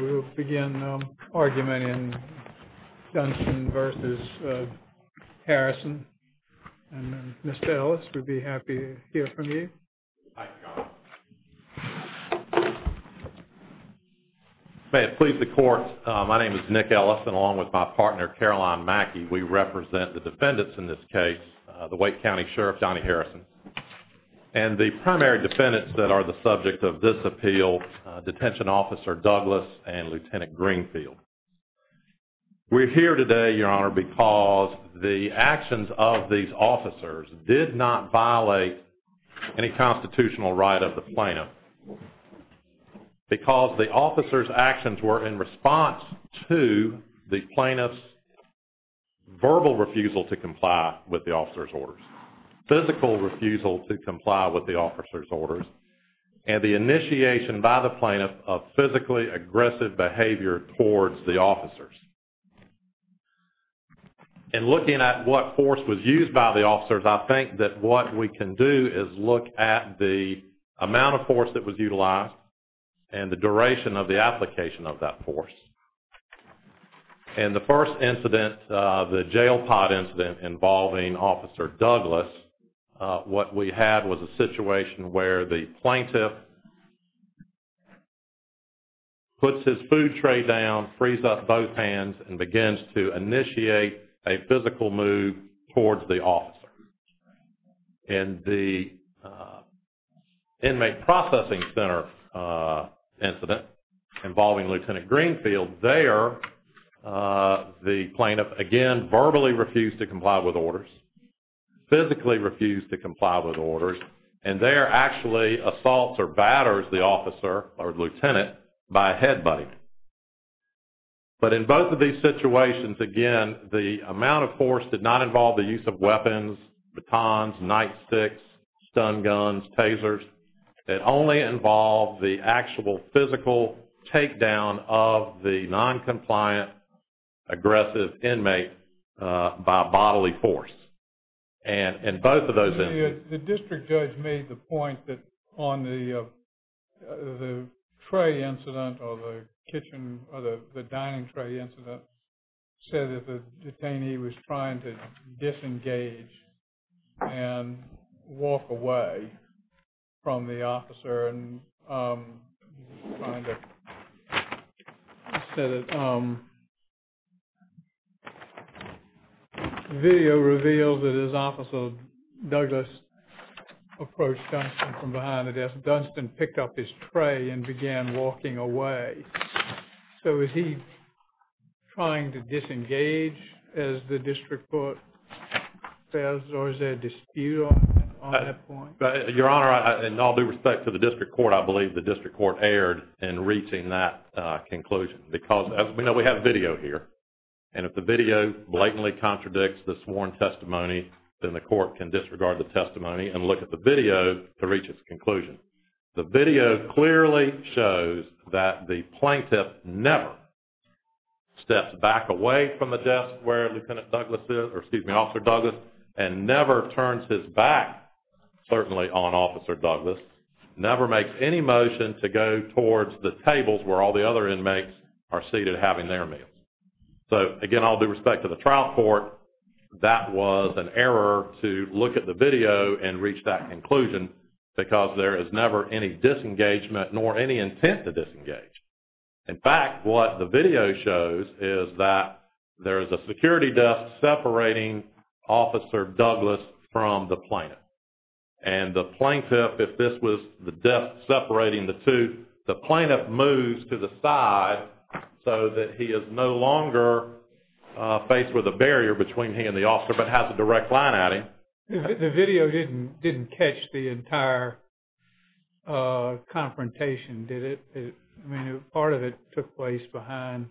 We will begin the argument in Dunston v. Harrison and Mr. Ellis, we'd be happy to hear from you. May it please the court, my name is Nick Ellis and along with my partner Caroline Mackey, we represent the defendants in this case, the Wake County Sheriff Donnie Harrison, and the primary defendants that are the subject of this appeal, Detention Officer Douglas and Lieutenant Greenfield. We're here today, Your Honor, because the actions of these officers did not violate any constitutional right of the plaintiff. Because the officer's actions were in response to the plaintiff's verbal refusal to comply with the officer's orders, physical refusal to comply with the officer's orders, and the initiation by the plaintiff of physically aggressive behavior towards the officers. In looking at what force was used by the officers, I think that what we can do is look at the amount of force that was utilized and the duration of the application of that force. In the first incident, the jail pod incident involving Officer Douglas, what we had was a situation where the plaintiff puts his food tray down, frees up both hands, and begins to initiate a physical move towards the officer. In the inmate processing center incident involving Lieutenant Greenfield, there the plaintiff, again, verbally refused to comply with orders, physically refused to comply with orders, and there actually assaults or batters the officer or lieutenant by a headbutt. But in both of these situations, again, the amount of force did not involve the use of weapons, batons, nightsticks, stun guns, tasers. It only involved the actual physical takedown of the noncompliant aggressive inmate by bodily force. The district judge made the point that on the tray incident or the dining tray incident, said that the detainee was trying to disengage and walk away from the officer. Video reveals that as Officer Douglas approached Dunstan from behind the desk, Dunstan picked up his tray and began walking away. So is he trying to disengage, as the district court says, or is there a dispute on that point? Your Honor, in all due respect to the district court, I believe the district court erred in reaching that conclusion. Because, as we know, we have video here. And if the video blatantly contradicts the sworn testimony, then the court can disregard the testimony and look at the video to reach its conclusion. The video clearly shows that the plaintiff never steps back away from the desk where Lieutenant Douglas is, or excuse me, Officer Douglas, and never turns his back, certainly on Officer Douglas, never makes any motion to go towards the tables where all the other inmates are seated having their meals. So, again, all due respect to the trial court, that was an error to look at the video and reach that conclusion. Because there is never any disengagement nor any intent to disengage. In fact, what the video shows is that there is a security desk separating Officer Douglas from the plaintiff. And the plaintiff, if this was the desk separating the two, the plaintiff moves to the side so that he is no longer faced with a barrier between he and the officer but has a direct line at him. The video didn't catch the entire confrontation, did it? I mean, part of it took place behind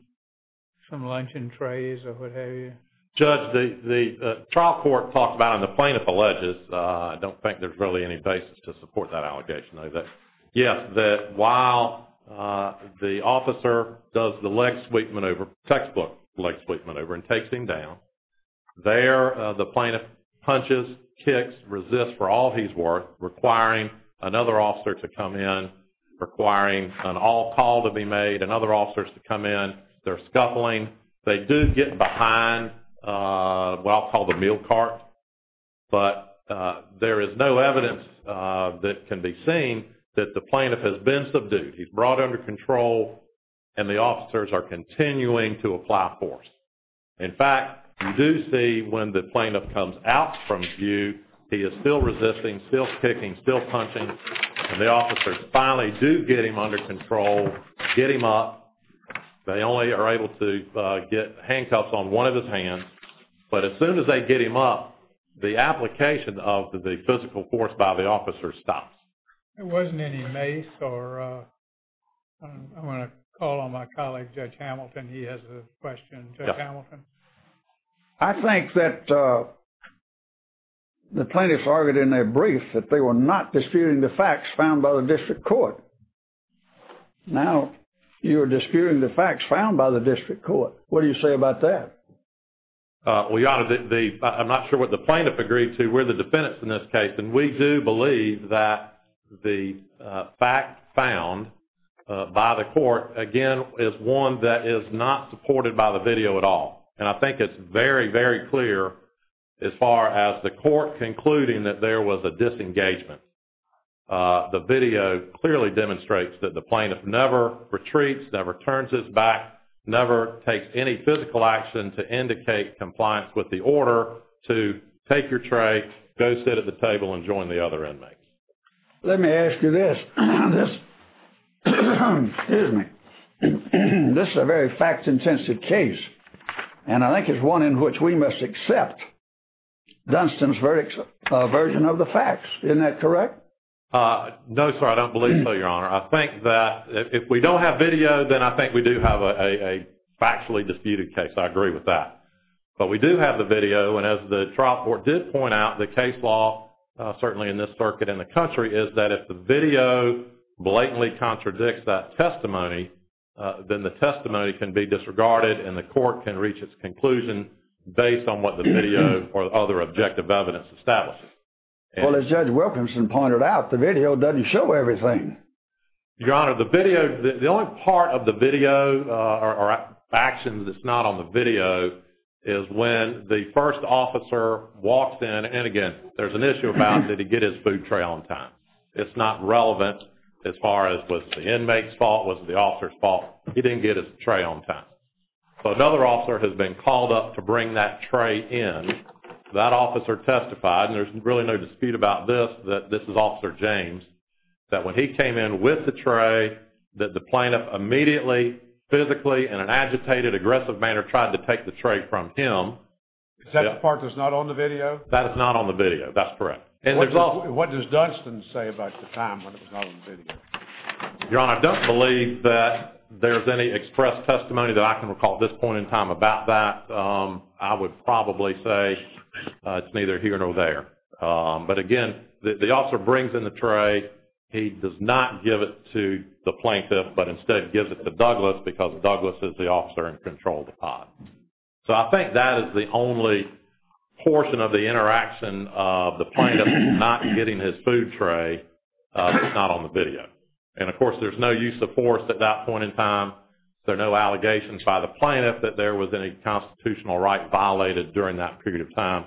some luncheon trays or what have you. Judge, the trial court talks about, and the plaintiff alleges, I don't think there's really any basis to support that allegation. Yes, that while the officer does the leg sweep maneuver, textbook leg sweep maneuver and takes him down, there the plaintiff punches, kicks, resists for all he's worth, requiring another officer to come in, requiring an all call to be made, another officer to come in. They're scuffling. They do get behind what I'll call the meal cart. But there is no evidence that can be seen that the plaintiff has been subdued. He's brought under control and the officers are continuing to apply force. In fact, you do see when the plaintiff comes out from view, he is still resisting, still kicking, still punching. And the officers finally do get him under control, get him up. They only are able to get handcuffs on one of his hands. But as soon as they get him up, the application of the physical force by the officers stops. There wasn't any mace or... I'm going to call on my colleague, Judge Hamilton. He has a question. Judge Hamilton? I think that the plaintiffs argued in their brief that they were not disputing the facts found by the district court. Now, you're disputing the facts found by the district court. What do you say about that? I'm not sure what the plaintiff agreed to. We're the defendants in this case. And we do believe that the fact found by the court, again, is one that is not supported by the video at all. And I think it's very, very clear as far as the court concluding that there was a disengagement. The video clearly demonstrates that the plaintiff never retreats, never turns his back, never takes any physical action to indicate compliance with the order to take your tray, go sit at the table, and join the other inmates. Let me ask you this. This is a very fact-intensive case. And I think it's one in which we must accept Dunstan's version of the facts. Isn't that correct? No, sir. I don't believe so, Your Honor. I think that if we don't have video, then I think we do have a factually disputed case. I agree with that. But we do have the video. And as the trial court did point out, the case law, certainly in this circuit and the country, is that if the video blatantly contradicts that testimony, then the testimony can be disregarded and the court can reach its conclusion based on what the video or other objective evidence establishes. Well, as Judge Wilkinson pointed out, the video doesn't show everything. Your Honor, the video, the only part of the video or action that's not on the video is when the first officer walks in and, again, there's an issue about did he get his food tray on time. It's not relevant as far as was the inmate's fault, was it the officer's fault. He didn't get his tray on time. So another officer has been called up to bring that tray in. That officer testified, and there's really no dispute about this, that this is Officer James, that when he came in with the tray, that the plaintiff immediately, physically, in an agitated, aggressive manner, tried to take the tray from him. Is that the part that's not on the video? That is not on the video. That's correct. What does Dunstan say about the time when it was not on the video? Your Honor, I don't believe that there's any express testimony that I can recall at this point in time about that. I would probably say it's neither here nor there. But, again, the officer brings in the tray. He does not give it to the plaintiff but instead gives it to Douglas because Douglas is the officer in control of the pot. So I think that is the only portion of the interaction of the plaintiff not getting his food tray that's not on the video. And, of course, there's no use of force at that point in time. There are no allegations by the plaintiff that there was any constitutional right violated during that period of time.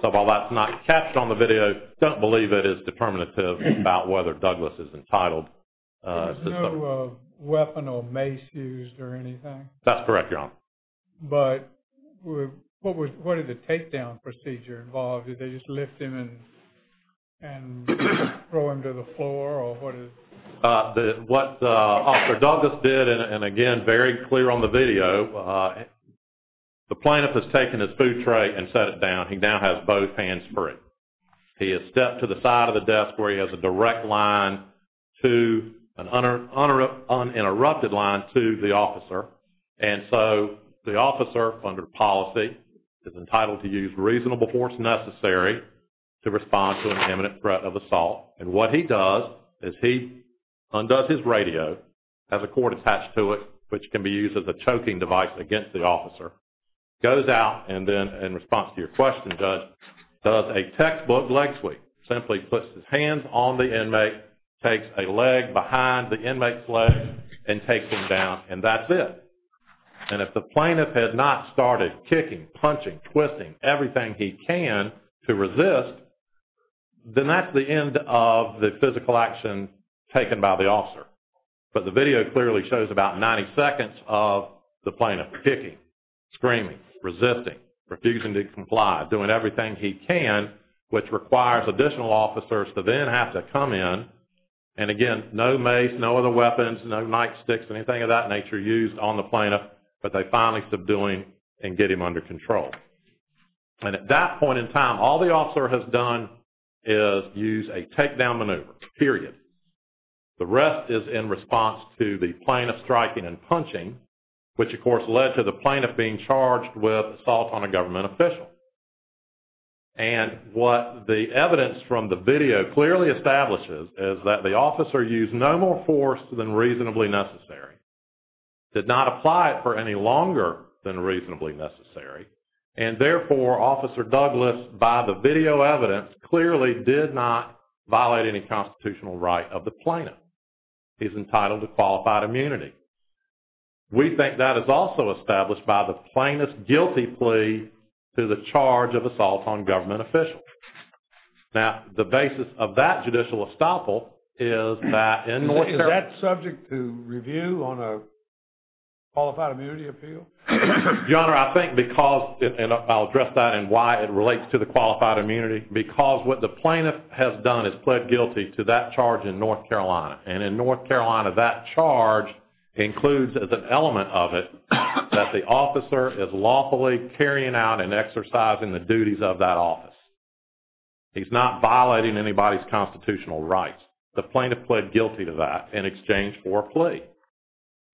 So while that's not captured on the video, I don't believe it is determinative about whether Douglas is entitled. There's no weapon or mace used or anything? That's correct, Your Honor. But what did the takedown procedure involve? Did they just lift him and throw him to the floor or what? What Officer Douglas did, and, again, very clear on the video, the plaintiff has taken his food tray and set it down. He now has both hands free. He has stepped to the side of the desk where he has a direct line to an uninterrupted line to the officer. And so the officer, under policy, is entitled to use reasonable force necessary to respond to an imminent threat of assault. And what he does is he undoes his radio, has a cord attached to it, which can be used as a choking device against the officer, goes out and then, in response to your question, Judge, does a textbook leg sweep. Simply puts his hands on the inmate, takes a leg behind the inmate's leg, and takes him down. And that's it. And if the plaintiff had not started kicking, punching, twisting, everything he can to resist, then that's the end of the physical action taken by the officer. But the video clearly shows about 90 seconds of the plaintiff kicking, screaming, resisting, refusing to comply, doing everything he can, which requires additional officers to then have to come in. And again, no mace, no other weapons, no nightsticks, anything of that nature used on the plaintiff. But they finally stop doing and get him under control. And at that point in time, all the officer has done is use a takedown maneuver, period. The rest is in response to the plaintiff striking and punching, which, of course, led to the plaintiff being charged with assault on a government official. And what the evidence from the video clearly establishes is that the officer used no more force than reasonably necessary. Did not apply it for any longer than reasonably necessary. And therefore, Officer Douglas, by the video evidence, clearly did not violate any constitutional right of the plaintiff. He's entitled to qualified immunity. We think that is also established by the plaintiff's guilty plea to the charge of assault on government officials. Now, the basis of that judicial estoppel is that in North Carolina... Is that subject to review on a qualified immunity appeal? Your Honor, I think because, and I'll address that and why it relates to the qualified immunity, because what the plaintiff has done is pled guilty to that charge in North Carolina. And in North Carolina, that charge includes, as an element of it, that the officer is lawfully carrying out and exercising the duties of that office. He's not violating anybody's constitutional rights. The plaintiff pled guilty to that in exchange for a plea.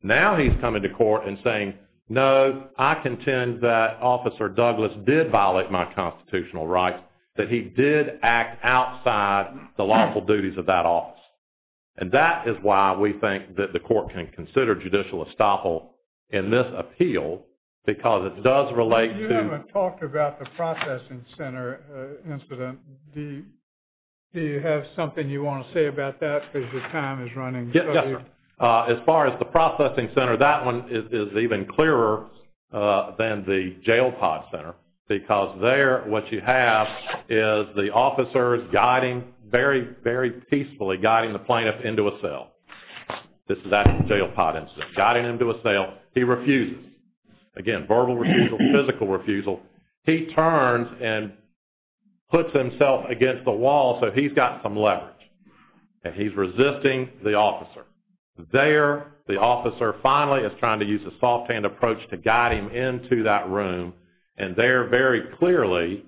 Now he's coming to court and saying, no, I contend that Officer Douglas did violate my constitutional rights, that he did act outside the lawful duties of that office. And that is why we think that the court can consider judicial estoppel in this appeal, because it does relate to... You haven't talked about the processing center incident. Do you have something you want to say about that? Because the time is running... Yes, Your Honor. As far as the processing center, that one is even clearer than the jail pod center, because there what you have is the officer is guiding, very, very peacefully guiding the plaintiff into a cell. This is that jail pod incident. Guiding him to a cell. He refuses. Again, verbal refusal, physical refusal. He turns and puts himself against the wall so he's got some leverage. And he's resisting the officer. There, the officer finally is trying to use a soft-hand approach to guide him into that room. And there, very clearly,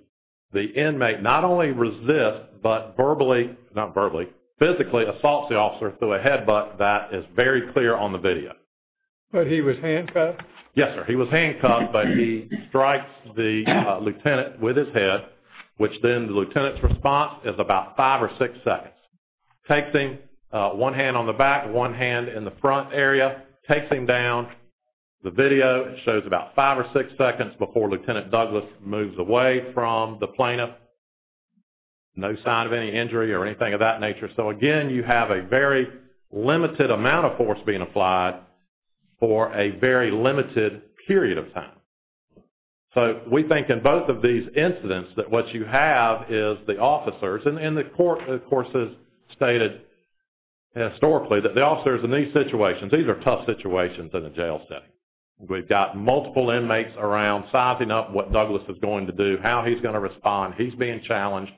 the inmate not only resists, but verbally, not verbally, physically assaults the officer through a headbutt. That is very clear on the video. But he was handcuffed? Yes, sir. He was handcuffed, but he strikes the lieutenant with his head, which then the lieutenant's response is about five or six seconds. Takes him, one hand on the back, one hand in the front area, takes him down. The video shows about five or six seconds before Lieutenant Douglas moves away from the plaintiff. No sign of any injury or anything of that nature. So, again, you have a very limited amount of force being applied for a very limited period of time. So, we think in both of these incidents that what you have is the officers, and the court, of course, has stated historically that the officers in these situations, these are tough situations in a jail setting. We've got multiple inmates around sizing up what Douglas is going to do, how he's going to respond. He's being challenged.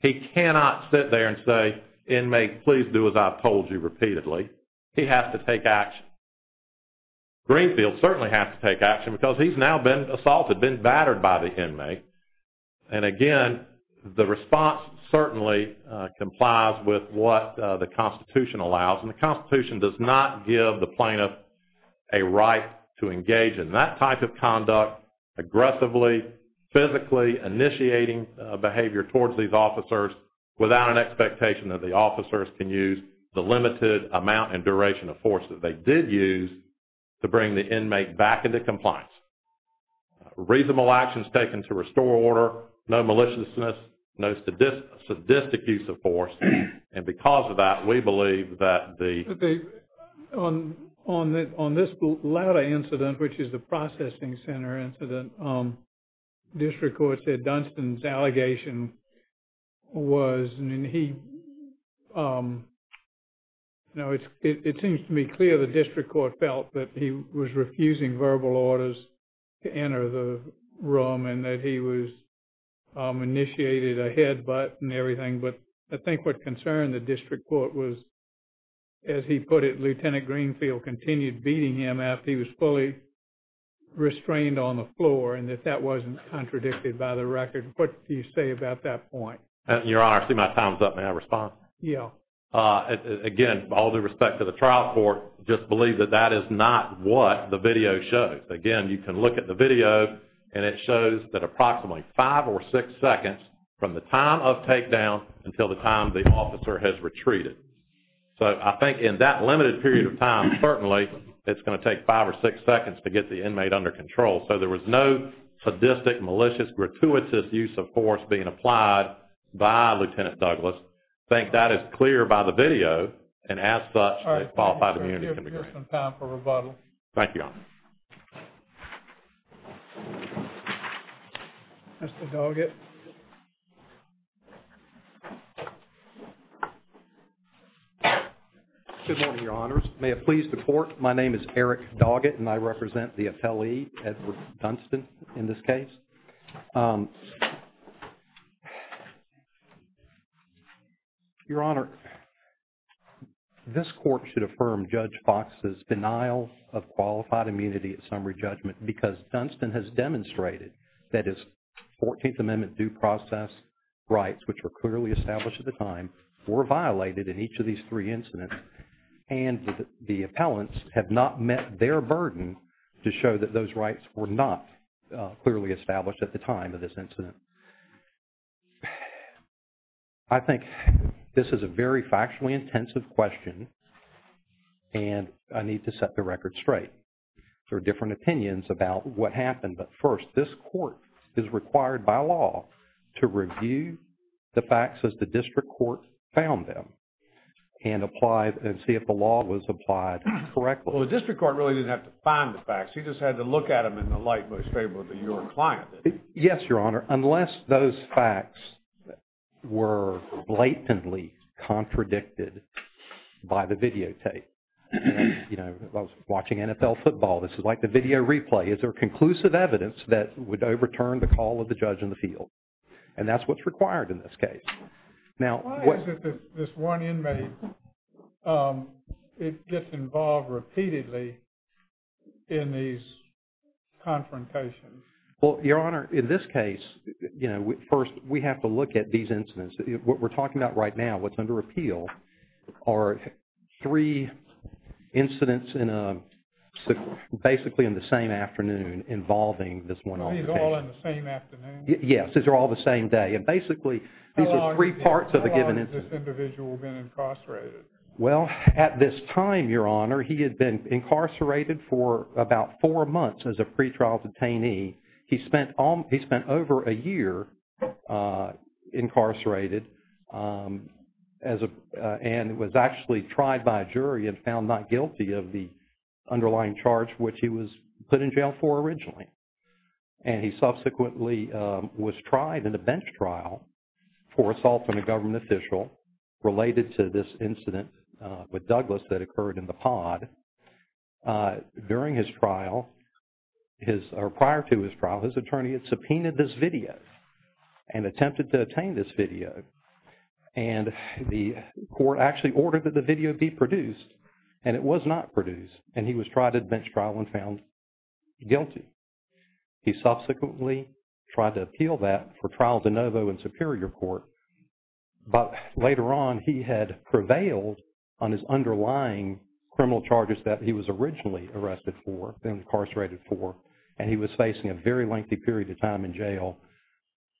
He cannot sit there and say, inmate, please do as I've told you repeatedly. He has to take action. Greenfield certainly has to take action because he's now been assaulted, been battered by the inmate. And, again, the response certainly complies with what the Constitution allows. And the Constitution does not give the plaintiff a right to engage in that type of conduct, aggressively, physically initiating behavior towards these officers without an expectation that the officers can use the limited amount and duration of force that they did use to bring the inmate back into compliance. Reasonable actions taken to restore order, no maliciousness, no sadistic use of force. And because of that, we believe that the... On this latter incident, which is the processing center incident, district court said Dunstan's allegation was, I mean, he, you know, it seems to me clear the district court felt that he was refusing verbal orders to enter the room and that he was initiated a headbutt and everything. But I think what concerned the district court was, as he put it, Lieutenant Greenfield continued beating him after he was fully restrained on the floor and that that wasn't contradicted by the record. What do you say about that point? Your Honor, I see my time's up. May I respond? Yeah. Again, all due respect to the trial court, just believe that that is not what the video shows. Again, you can look at the video and it shows that approximately five or six seconds from the time of takedown until the time the officer has retreated. So I think in that limited period of time, certainly, it's going to take five or six seconds to get the inmate under control. So there was no sadistic, malicious, gratuitous use of force being applied by Lieutenant Douglas. I think that is clear by the video, and as such, a qualified immunity can be granted. All right. We have some time for rebuttal. Thank you, Your Honor. Mr. Doggett. Good morning, Your Honors. May it please the Court, my name is Eric Doggett and I represent the affiliate, Edward Dunstan, in this case. Your Honor, this Court should affirm Judge Fox's denial of qualified immunity at summary judgment because Dunstan has demonstrated that his 14th Amendment due process rights, which were clearly established at the time, were violated in each of these three incidents and the appellants have not met their burden to show that those rights were not clearly established at the time of this incident. I think this is a very factually intensive question and I need to set the record straight. There are different opinions about what happened, but first, this Court is required by law to review the facts as the District Court found them and apply and see if the law was applied correctly. He just had to look at them in the light most favorable to your client. Yes, Your Honor, unless those facts were blatantly contradicted by the videotape. You know, I was watching NFL football. This is like the video replay. Is there conclusive evidence that would overturn the call of the judge in the field? And that's what's required in this case. Why is it that this one inmate gets involved repeatedly in these confrontations? Well, Your Honor, in this case, you know, first we have to look at these incidents. What we're talking about right now, what's under appeal, are three incidents basically in the same afternoon involving this one officer. These are all in the same afternoon? Yes, these are all the same day. And basically, these are three parts of a given incident. How long has this individual been incarcerated? Well, at this time, Your Honor, he had been incarcerated for about four months as a pretrial detainee. He spent over a year incarcerated and was actually tried by a jury and found not guilty of the underlying charge which he was put in jail for originally. And he subsequently was tried in a bench trial for assault on a government official related to this incident with Douglas that occurred in the pod. During his trial, or prior to his trial, his attorney had subpoenaed this video and attempted to obtain this video. And the court actually ordered that the video be produced. And it was not produced. And he was tried in a bench trial and found guilty. He subsequently tried to appeal that for trial de novo in superior court. But later on, he had prevailed on his underlying criminal charges that he was originally arrested for, incarcerated for. And he was facing a very lengthy period of time in jail.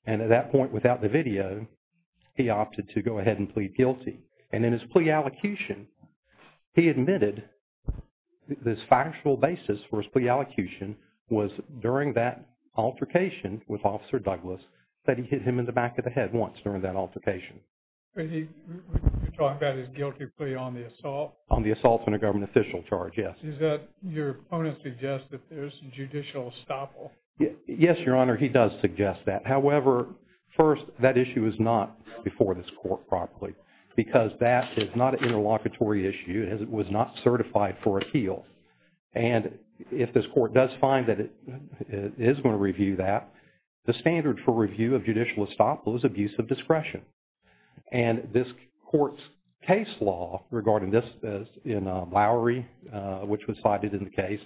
And at that point, without the video, he opted to go ahead and plead guilty. And in his plea allocution, he admitted this factual basis for his plea allocation was during that altercation with Officer Douglas that he hit him in the back of the head once during that altercation. You're talking about his guilty plea on the assault? On the assault on a government official charge, yes. Does that, your opponent suggests that there's a judicial estoppel? Yes, Your Honor, he does suggest that. However, first, that issue is not before this court properly. Because that is not an interlocutory issue. It was not certified for appeal. And if this court does find that it is going to review that, the standard for review of judicial estoppel is abuse of discretion. And this court's case law regarding this in Lowry, which was cited in the case,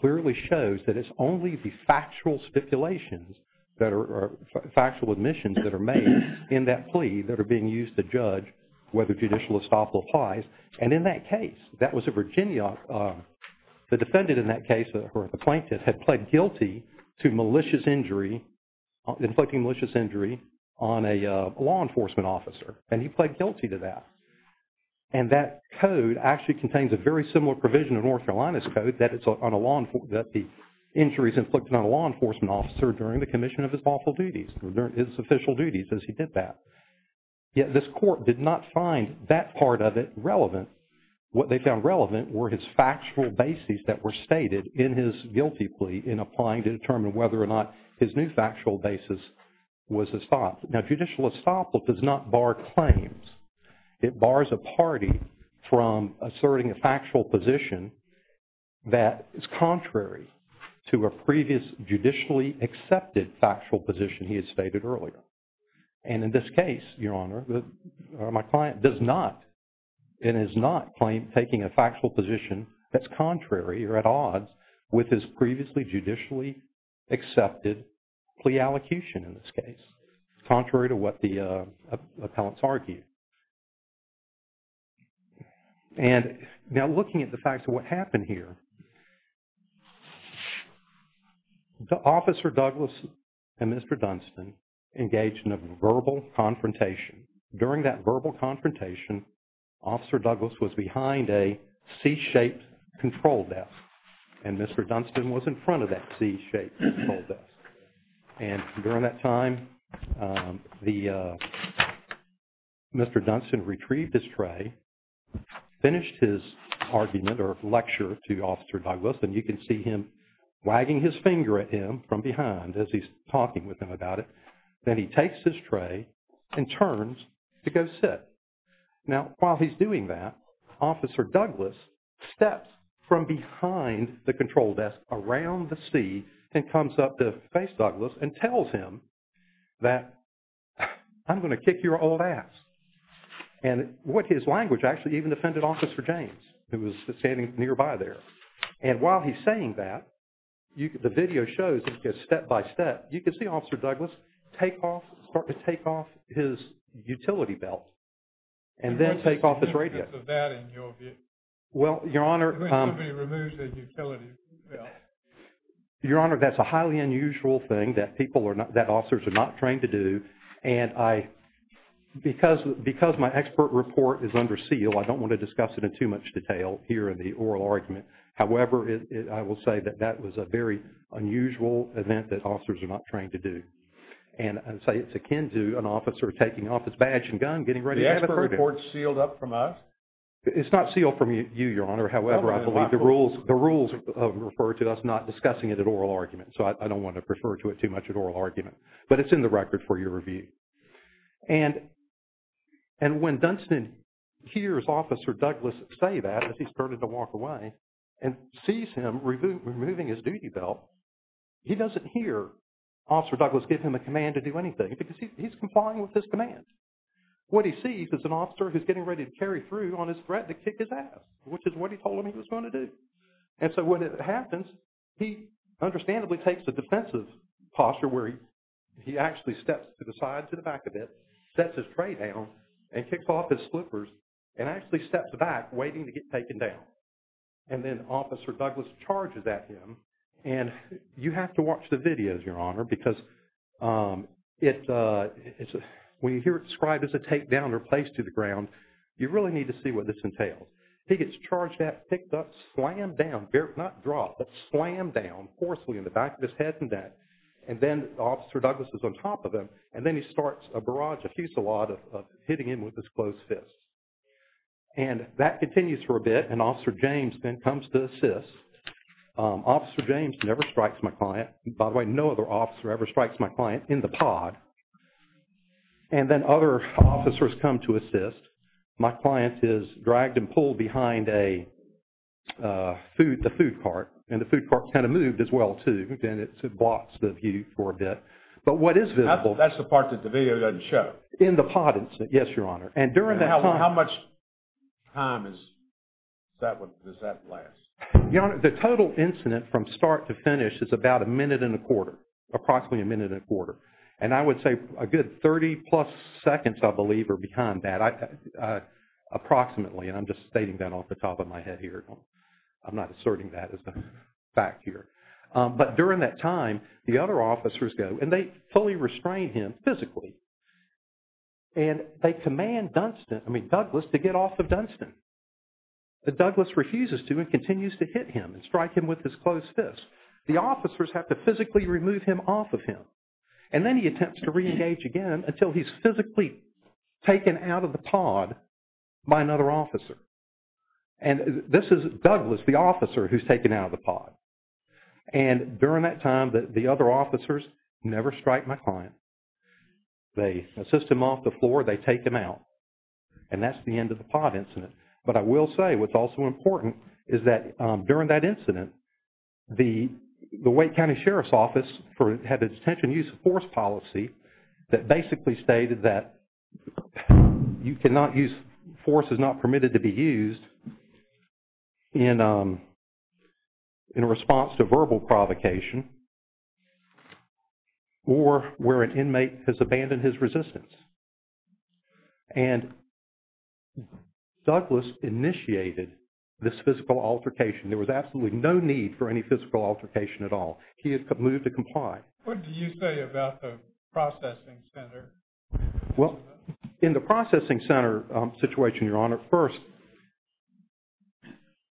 clearly shows that it's only the factual speculations that are, factual admissions that are made in that plea that are being used to judge whether judicial estoppel applies. And in that case, that was a Virginia, the defendant in that case, or the plaintiff, had pled guilty to malicious injury, inflicting malicious injury on a law enforcement officer. And he pled guilty to that. And that code actually contains a very similar provision in North Carolina's code that the injury is inflicted on a law enforcement officer during the commission of his lawful duties, his official duties as he did that. Yet this court did not find that part of it relevant. What they found relevant were his factual bases that were stated in his guilty plea in applying to determine whether or not his new factual basis was estoppel. Now, judicial estoppel does not bar claims. It bars a party from asserting a factual position that is contrary to a previous judicially accepted factual position he had stated earlier. And in this case, Your Honor, my client does not, and is not taking a factual position that's contrary or at odds with his previously judicially accepted plea allocution in this case. Contrary to what the appellants argued. And now looking at the facts of what happened here, Officer Douglas and Mr. Dunstan engaged in a verbal confrontation. During that verbal confrontation, Officer Douglas was behind a C-shaped control desk and Mr. Dunstan was in front of that C-shaped control desk. And during that time, Mr. Dunstan retrieved his tray, finished his argument or lecture to Officer Douglas, and you can see him wagging his finger at him from behind as he's talking with him about it. Then he takes his tray and turns to go sit. Now, while he's doing that, Officer Douglas steps from behind the control desk around the C and comes up to face Douglas and tells him that, I'm going to kick your old ass. And what his language actually even offended Officer James who was standing nearby there. And while he's saying that, the video shows step by step, you can see Officer Douglas take off, start to take off his utility belt and then take off his radio. Well, Your Honor. When somebody removes their utility belt. Your Honor, that's a highly unusual thing that officers are not trained to do. And because my expert report is under seal, I don't want to discuss it in too much detail here in the oral argument. However, I will say that that was a very unusual event that officers are not trained to do. And I'd say it's akin to an officer taking off his badge and gun, getting ready to execute it. The expert report is sealed up from us? It's not sealed from you, Your Honor. However, I believe the rules refer to us not discussing it at oral argument. So I don't want to refer to it too much at oral argument. But it's in the record for your review. And when Dunstan hears Officer Douglas say that, as he started to walk away, and sees him removing his duty belt, he doesn't hear Officer Douglas give him a command to do anything because he's complying with his commands. What he sees is an officer who's getting ready to carry through on his threat to kick his ass, which is what he told him he was going to do. And so when it happens, he understandably takes a defensive posture where he actually steps to the side to the back of it, sets his tray down, and kicks off his slippers, and actually steps back waiting to get taken down. And then Officer Douglas charges at him. And you have to watch the videos, Your Honor, because when you hear it described as a take down or place to the ground, you really need to see what this entails. He gets charged at, picked up, slammed down, not dropped, but slammed down forcefully in the back of his head. And then Officer Douglas is on top of him. And then he starts a barrage, a fusillade, of hitting him with his closed fists. And that continues for a bit. And Officer James then comes to assist. Officer James never strikes my client. By the way, no other officer ever strikes my client in the pod. And then other officers come to assist. My client is dragged and pulled behind a food cart. And the food cart kind of moved as well, too. And it blocks the view for a bit. But what is visible... That's the part that the video doesn't show. In the pod, yes, Your Honor. And during that time... How much time does that last? Your Honor, the total incident from start to finish is about a minute and a quarter, approximately a minute and a quarter. And I would say a good 30-plus seconds, I believe, are behind that. Approximately. And I'm just stating that off the top of my head here. I'm not asserting that as a fact here. But during that time, the other officers go. And they fully restrain him physically. And they command Douglas to get off of Dunstan. But Douglas refuses to and continues to hit him and strike him with his closed fists. The officers have to physically remove him off of him. And then he attempts to reengage again until he's physically taken out of the pod by another officer. And this is Douglas, the officer, who's taken out of the pod. And during that time, the other officers never strike my client. They assist him off the floor. They take him out. And that's the end of the pod incident. But I will say what's also important is that during that incident, the Wake County Sheriff's Office had a detention use of force policy that basically stated that force is not permitted to be used in response to verbal provocation or where an inmate has abandoned his resistance. And Douglas initiated this physical altercation. There was absolutely no need for any physical altercation at all. He had moved to comply. What do you say about the processing center? Well, in the processing center situation, Your Honor, first,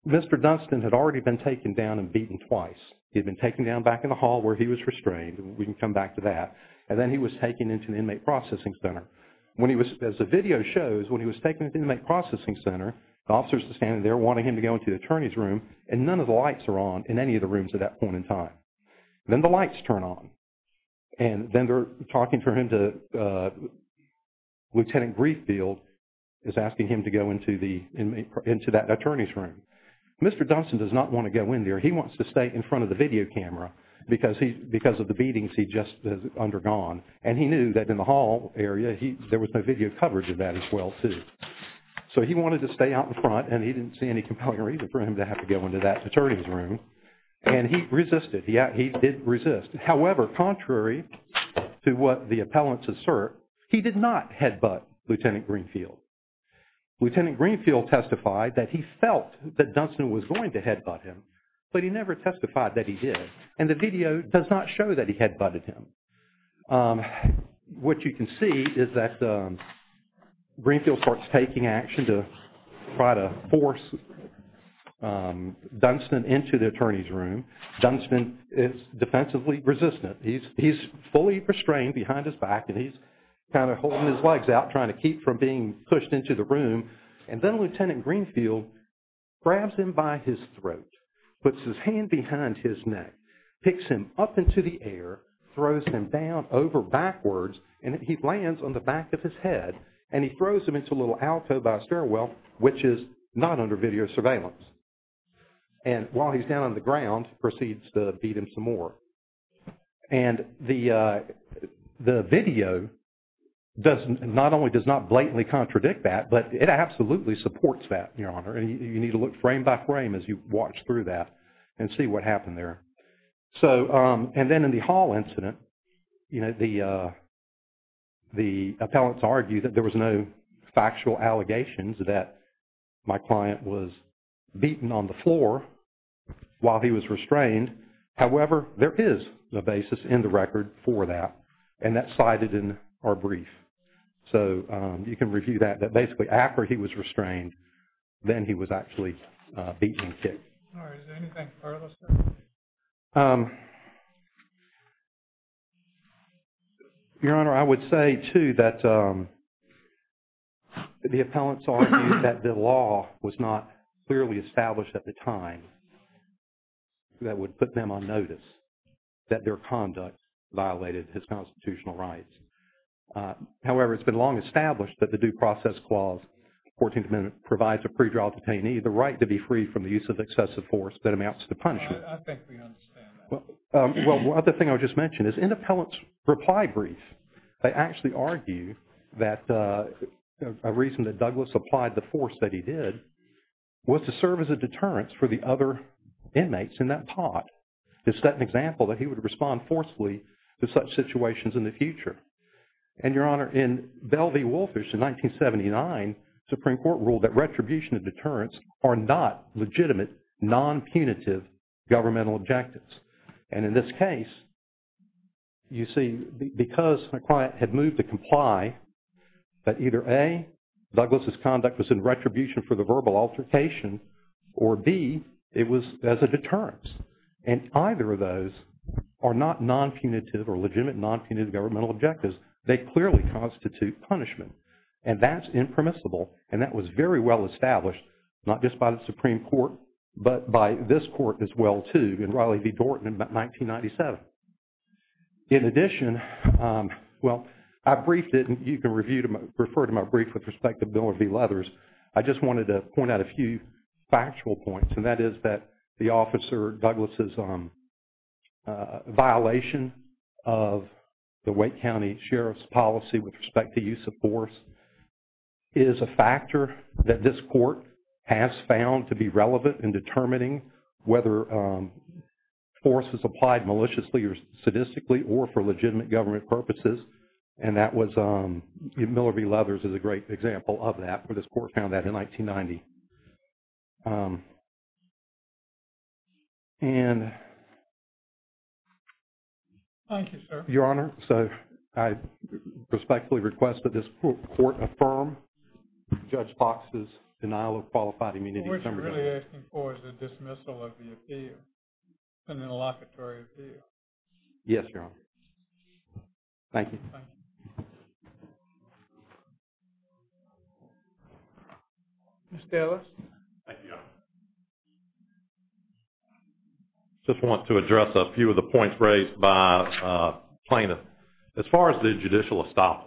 Mr. Dunstan had already been taken down and beaten twice. He had been taken down back in the hall where he was restrained. We can come back to that. And then he was taken into the inmate processing center. As the video shows, when he was taken into the inmate processing center, the officers are standing there wanting him to go into the attorney's room and none of the lights are on in any of the rooms at that point in time. Then the lights turn on. And then they're talking to him to Lieutenant Greenfield is asking him to go into that attorney's room. Mr. Dunstan does not want to go in there. He wants to stay in front of the video camera because of the beatings he just has undergone. And he knew that in the hall area, there was no video coverage of that as well too. So he wanted to stay out in front and he didn't see any compelling reason for him to have to go into that attorney's room. And he resisted. He did resist. However, contrary to what the appellants assert, he did not headbutt Lieutenant Greenfield. Lieutenant Greenfield testified that he felt that Dunstan was going to headbutt him, but he never testified that he did. And the video does not show that he headbutted him. What you can see is that Greenfield starts taking action to try to force Dunstan into the attorney's room. Dunstan is defensively resistant. He's fully restrained behind his back and he's kind of holding his legs out trying to keep from being pushed into the room. And then Lieutenant Greenfield grabs him by his throat, puts his hand behind his neck, picks him up into the air, throws him down over backwards, and he lands on the back of his head. And he throws him into a little alcove by a stairwell, which is not under video surveillance. And while he's down on the ground, proceeds to beat him some more. And the video not only does not blatantly contradict that, but it absolutely supports that, Your Honor. And you need to look frame by frame as you watch through that and see what happened there. So, and then in the Hall incident, you know, the appellants argue that there was no factual allegations that my client was beaten on the floor while he was restrained. However, there is a basis in the record for that. And that's cited in our brief. So, you can review that, that basically after he was restrained, then he was actually beaten and kicked. All right. Is there anything further, sir? Your Honor, I would say, too, that the appellants argue that the law was not clearly established at the time that would put them on notice that their conduct violated his constitutional rights. However, it's been long established that the Due Process Clause, 14th Amendment, provides a pre-trial detainee the right to be free from the use of excessive force that amounts to punishment. I think we understand that. Well, the other thing I would just mention is in the appellant's reply brief, they actually argue that a reason that Douglas applied the force that he did was to serve as a deterrence for the other inmates in that pot, to set an example that he would respond forcefully to such situations in the future. And, Your Honor, in Bell v. Wolfish in 1979, Supreme Court ruled that retribution and deterrence are not legitimate, non-punitive governmental objectives. And in this case, you see, because McCoy had moved to comply, that either A, Douglas' conduct was in retribution for the verbal altercation, or B, it was as a deterrence. And either of those are not non-punitive or legitimate non-punitive governmental objectives. They clearly constitute punishment. And that's impermissible, and that was very well established, not just by the Supreme Court, but by this Court as well, too, in Riley v. Dorton in 1997. In addition, well, I briefed it, and you can refer to my brief with respect to Bill v. Leathers. I just wanted to point out a few factual points, and that is that the Officer Douglas' violation of the Wake County Sheriff's policy with respect to use of force is a factor that this Court has found to be relevant in determining whether force is applied maliciously or sadistically or for legitimate government purposes. And that was, Miller v. Leathers is a great example of that, and this Court found that in 1990. And... Thank you, sir. Your Honor, so I respectfully request that this Court affirm Judge Fox's denial of qualified immunity. What we're really asking for is a dismissal of the appeal, an interlocutory appeal. Yes, Your Honor. Thank you. Thank you. Mr. Ellis. Thank you, Your Honor. Just want to address a few of the points raised by plaintiff. As far as the judicial estoppel,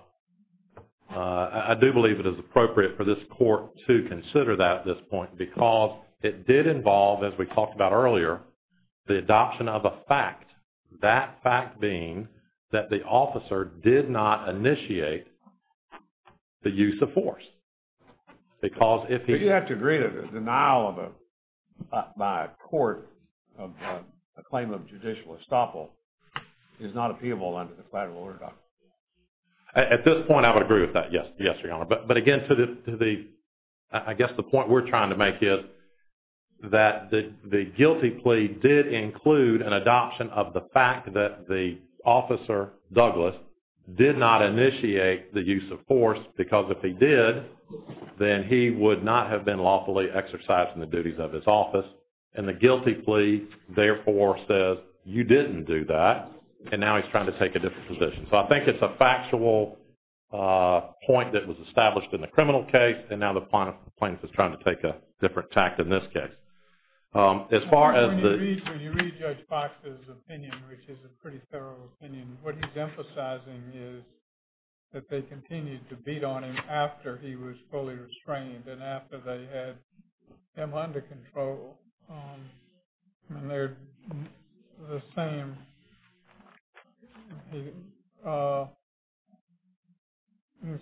I do believe it is appropriate for this Court to consider that at this point because it did involve, as we talked about earlier, the adoption of a fact, that fact being that the Officer did not initiate the use of force. Because if he... But you have to agree that a denial of a... by a court, a claim of judicial estoppel is not appealable under the collateral order document. At this point, I would agree with that, yes. Yes, Your Honor. But again, to the... I guess the point we're trying to make is that the guilty plea did include an adoption of the fact that the Officer Douglas did not initiate the use of force because if he did, then he would not have been lawfully exercised in the duties of his office. And the guilty plea, therefore, says you didn't do that and now he's trying to take a different position. So I think it's a factual point that was established in the criminal case and now the plaintiff is trying to take a different tact in this case. As far as the... When you read Judge Fox's opinion, which is a pretty thorough opinion, what he's emphasizing is that they continued to beat on him after he was fully restrained and after they had him under control. And they're the same. He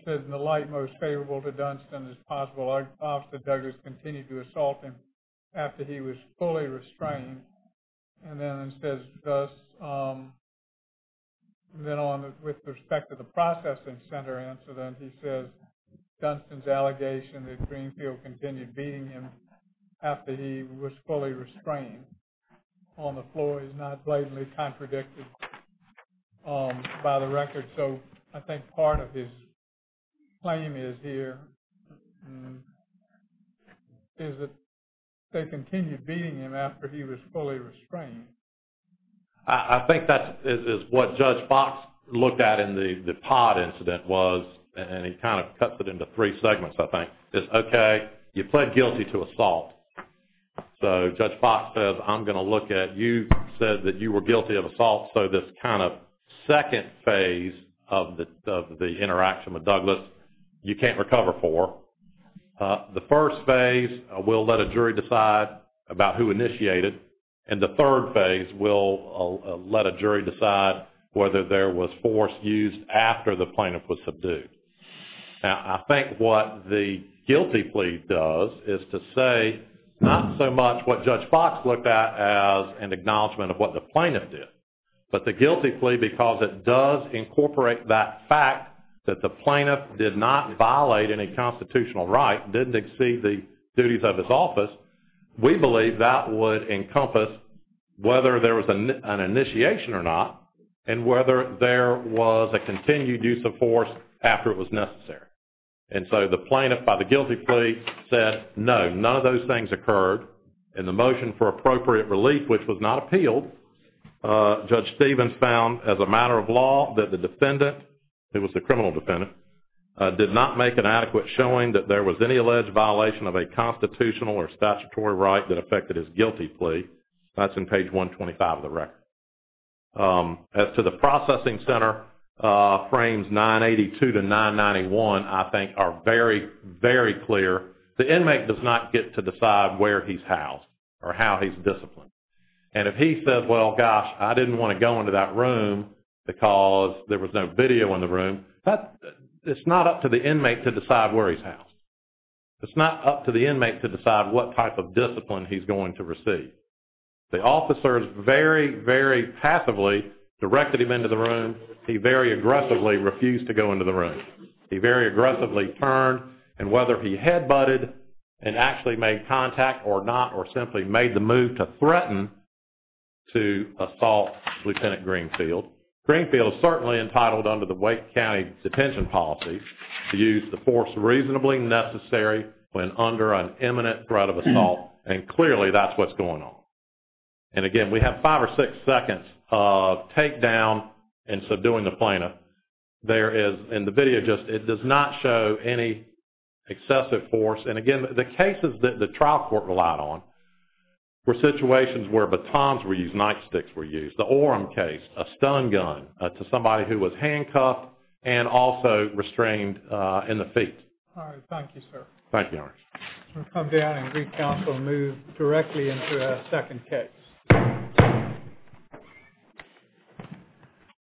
says, in the light most favorable to Dunstan as possible, Officer Douglas continued to assault him after he was fully restrained. And then it says thus... Then with respect to the processing center incident, he says Dunstan's allegation that Greenfield continued beating him after he was fully restrained on the floor is not blatantly contradicted by the record. So I think part of his claim is here is that they continued beating him after he was fully restrained. I think that is what Judge Fox looked at in the pod incident was and he kind of cuts it into three segments, I think. It's okay, you pled guilty to assault. So Judge Fox says, I'm going to look at... You said that you were guilty of assault. So this kind of second phase of the interaction with Douglas, you can't recover for. The first phase, we'll let a jury decide about who initiated. And the third phase, we'll let a jury decide whether there was force used after the plaintiff was subdued. Now, I think what the guilty plea does is to say not so much what Judge Fox looked at as an acknowledgement of what the plaintiff did, but the guilty plea because it does incorporate that fact that the plaintiff did not violate any constitutional right, didn't exceed the duties of his office. We believe that would encompass whether there was an initiation or not and whether there was a continued use of force after it was necessary. And so the plaintiff by the guilty plea said, no, none of those things occurred. In the motion for appropriate relief, which was not appealed, Judge Stevens found, as a matter of law, that the defendant, it was the criminal defendant, did not make an adequate showing that there was any alleged violation of a constitutional or statutory right that affected his guilty plea. That's in page 125 of the record. As to the processing center, frames 982 to 991, I think, are very, very clear. The inmate does not get to decide where he's housed or how he's disciplined. And if he says, well, gosh, I didn't want to go into that room because there was no video in the room, it's not up to the inmate to decide where he's housed. It's not up to the inmate to decide what type of discipline he's going to receive. The officers very, very passively directed him into the room. He very aggressively refused to go into the room. He very aggressively turned. And whether he head-butted and actually made contact or not or simply made the move to threaten to assault Lieutenant Greenfield, Greenfield is certainly entitled under the Wake County Detention Policy to use the force reasonably necessary when under an imminent threat of assault. And clearly, that's what's going on. And again, we have five or six seconds of takedown and subduing the plaintiff. There is, in the video just, it does not show any excessive force. And again, the cases that the trial court relied on were situations where batons were used, nightsticks were used, the Orem case, a stun gun to somebody who was handcuffed and also restrained in the feet. All right. Thank you, sir. Thank you, Henry. We'll come down and recounsel and move directly into our second case.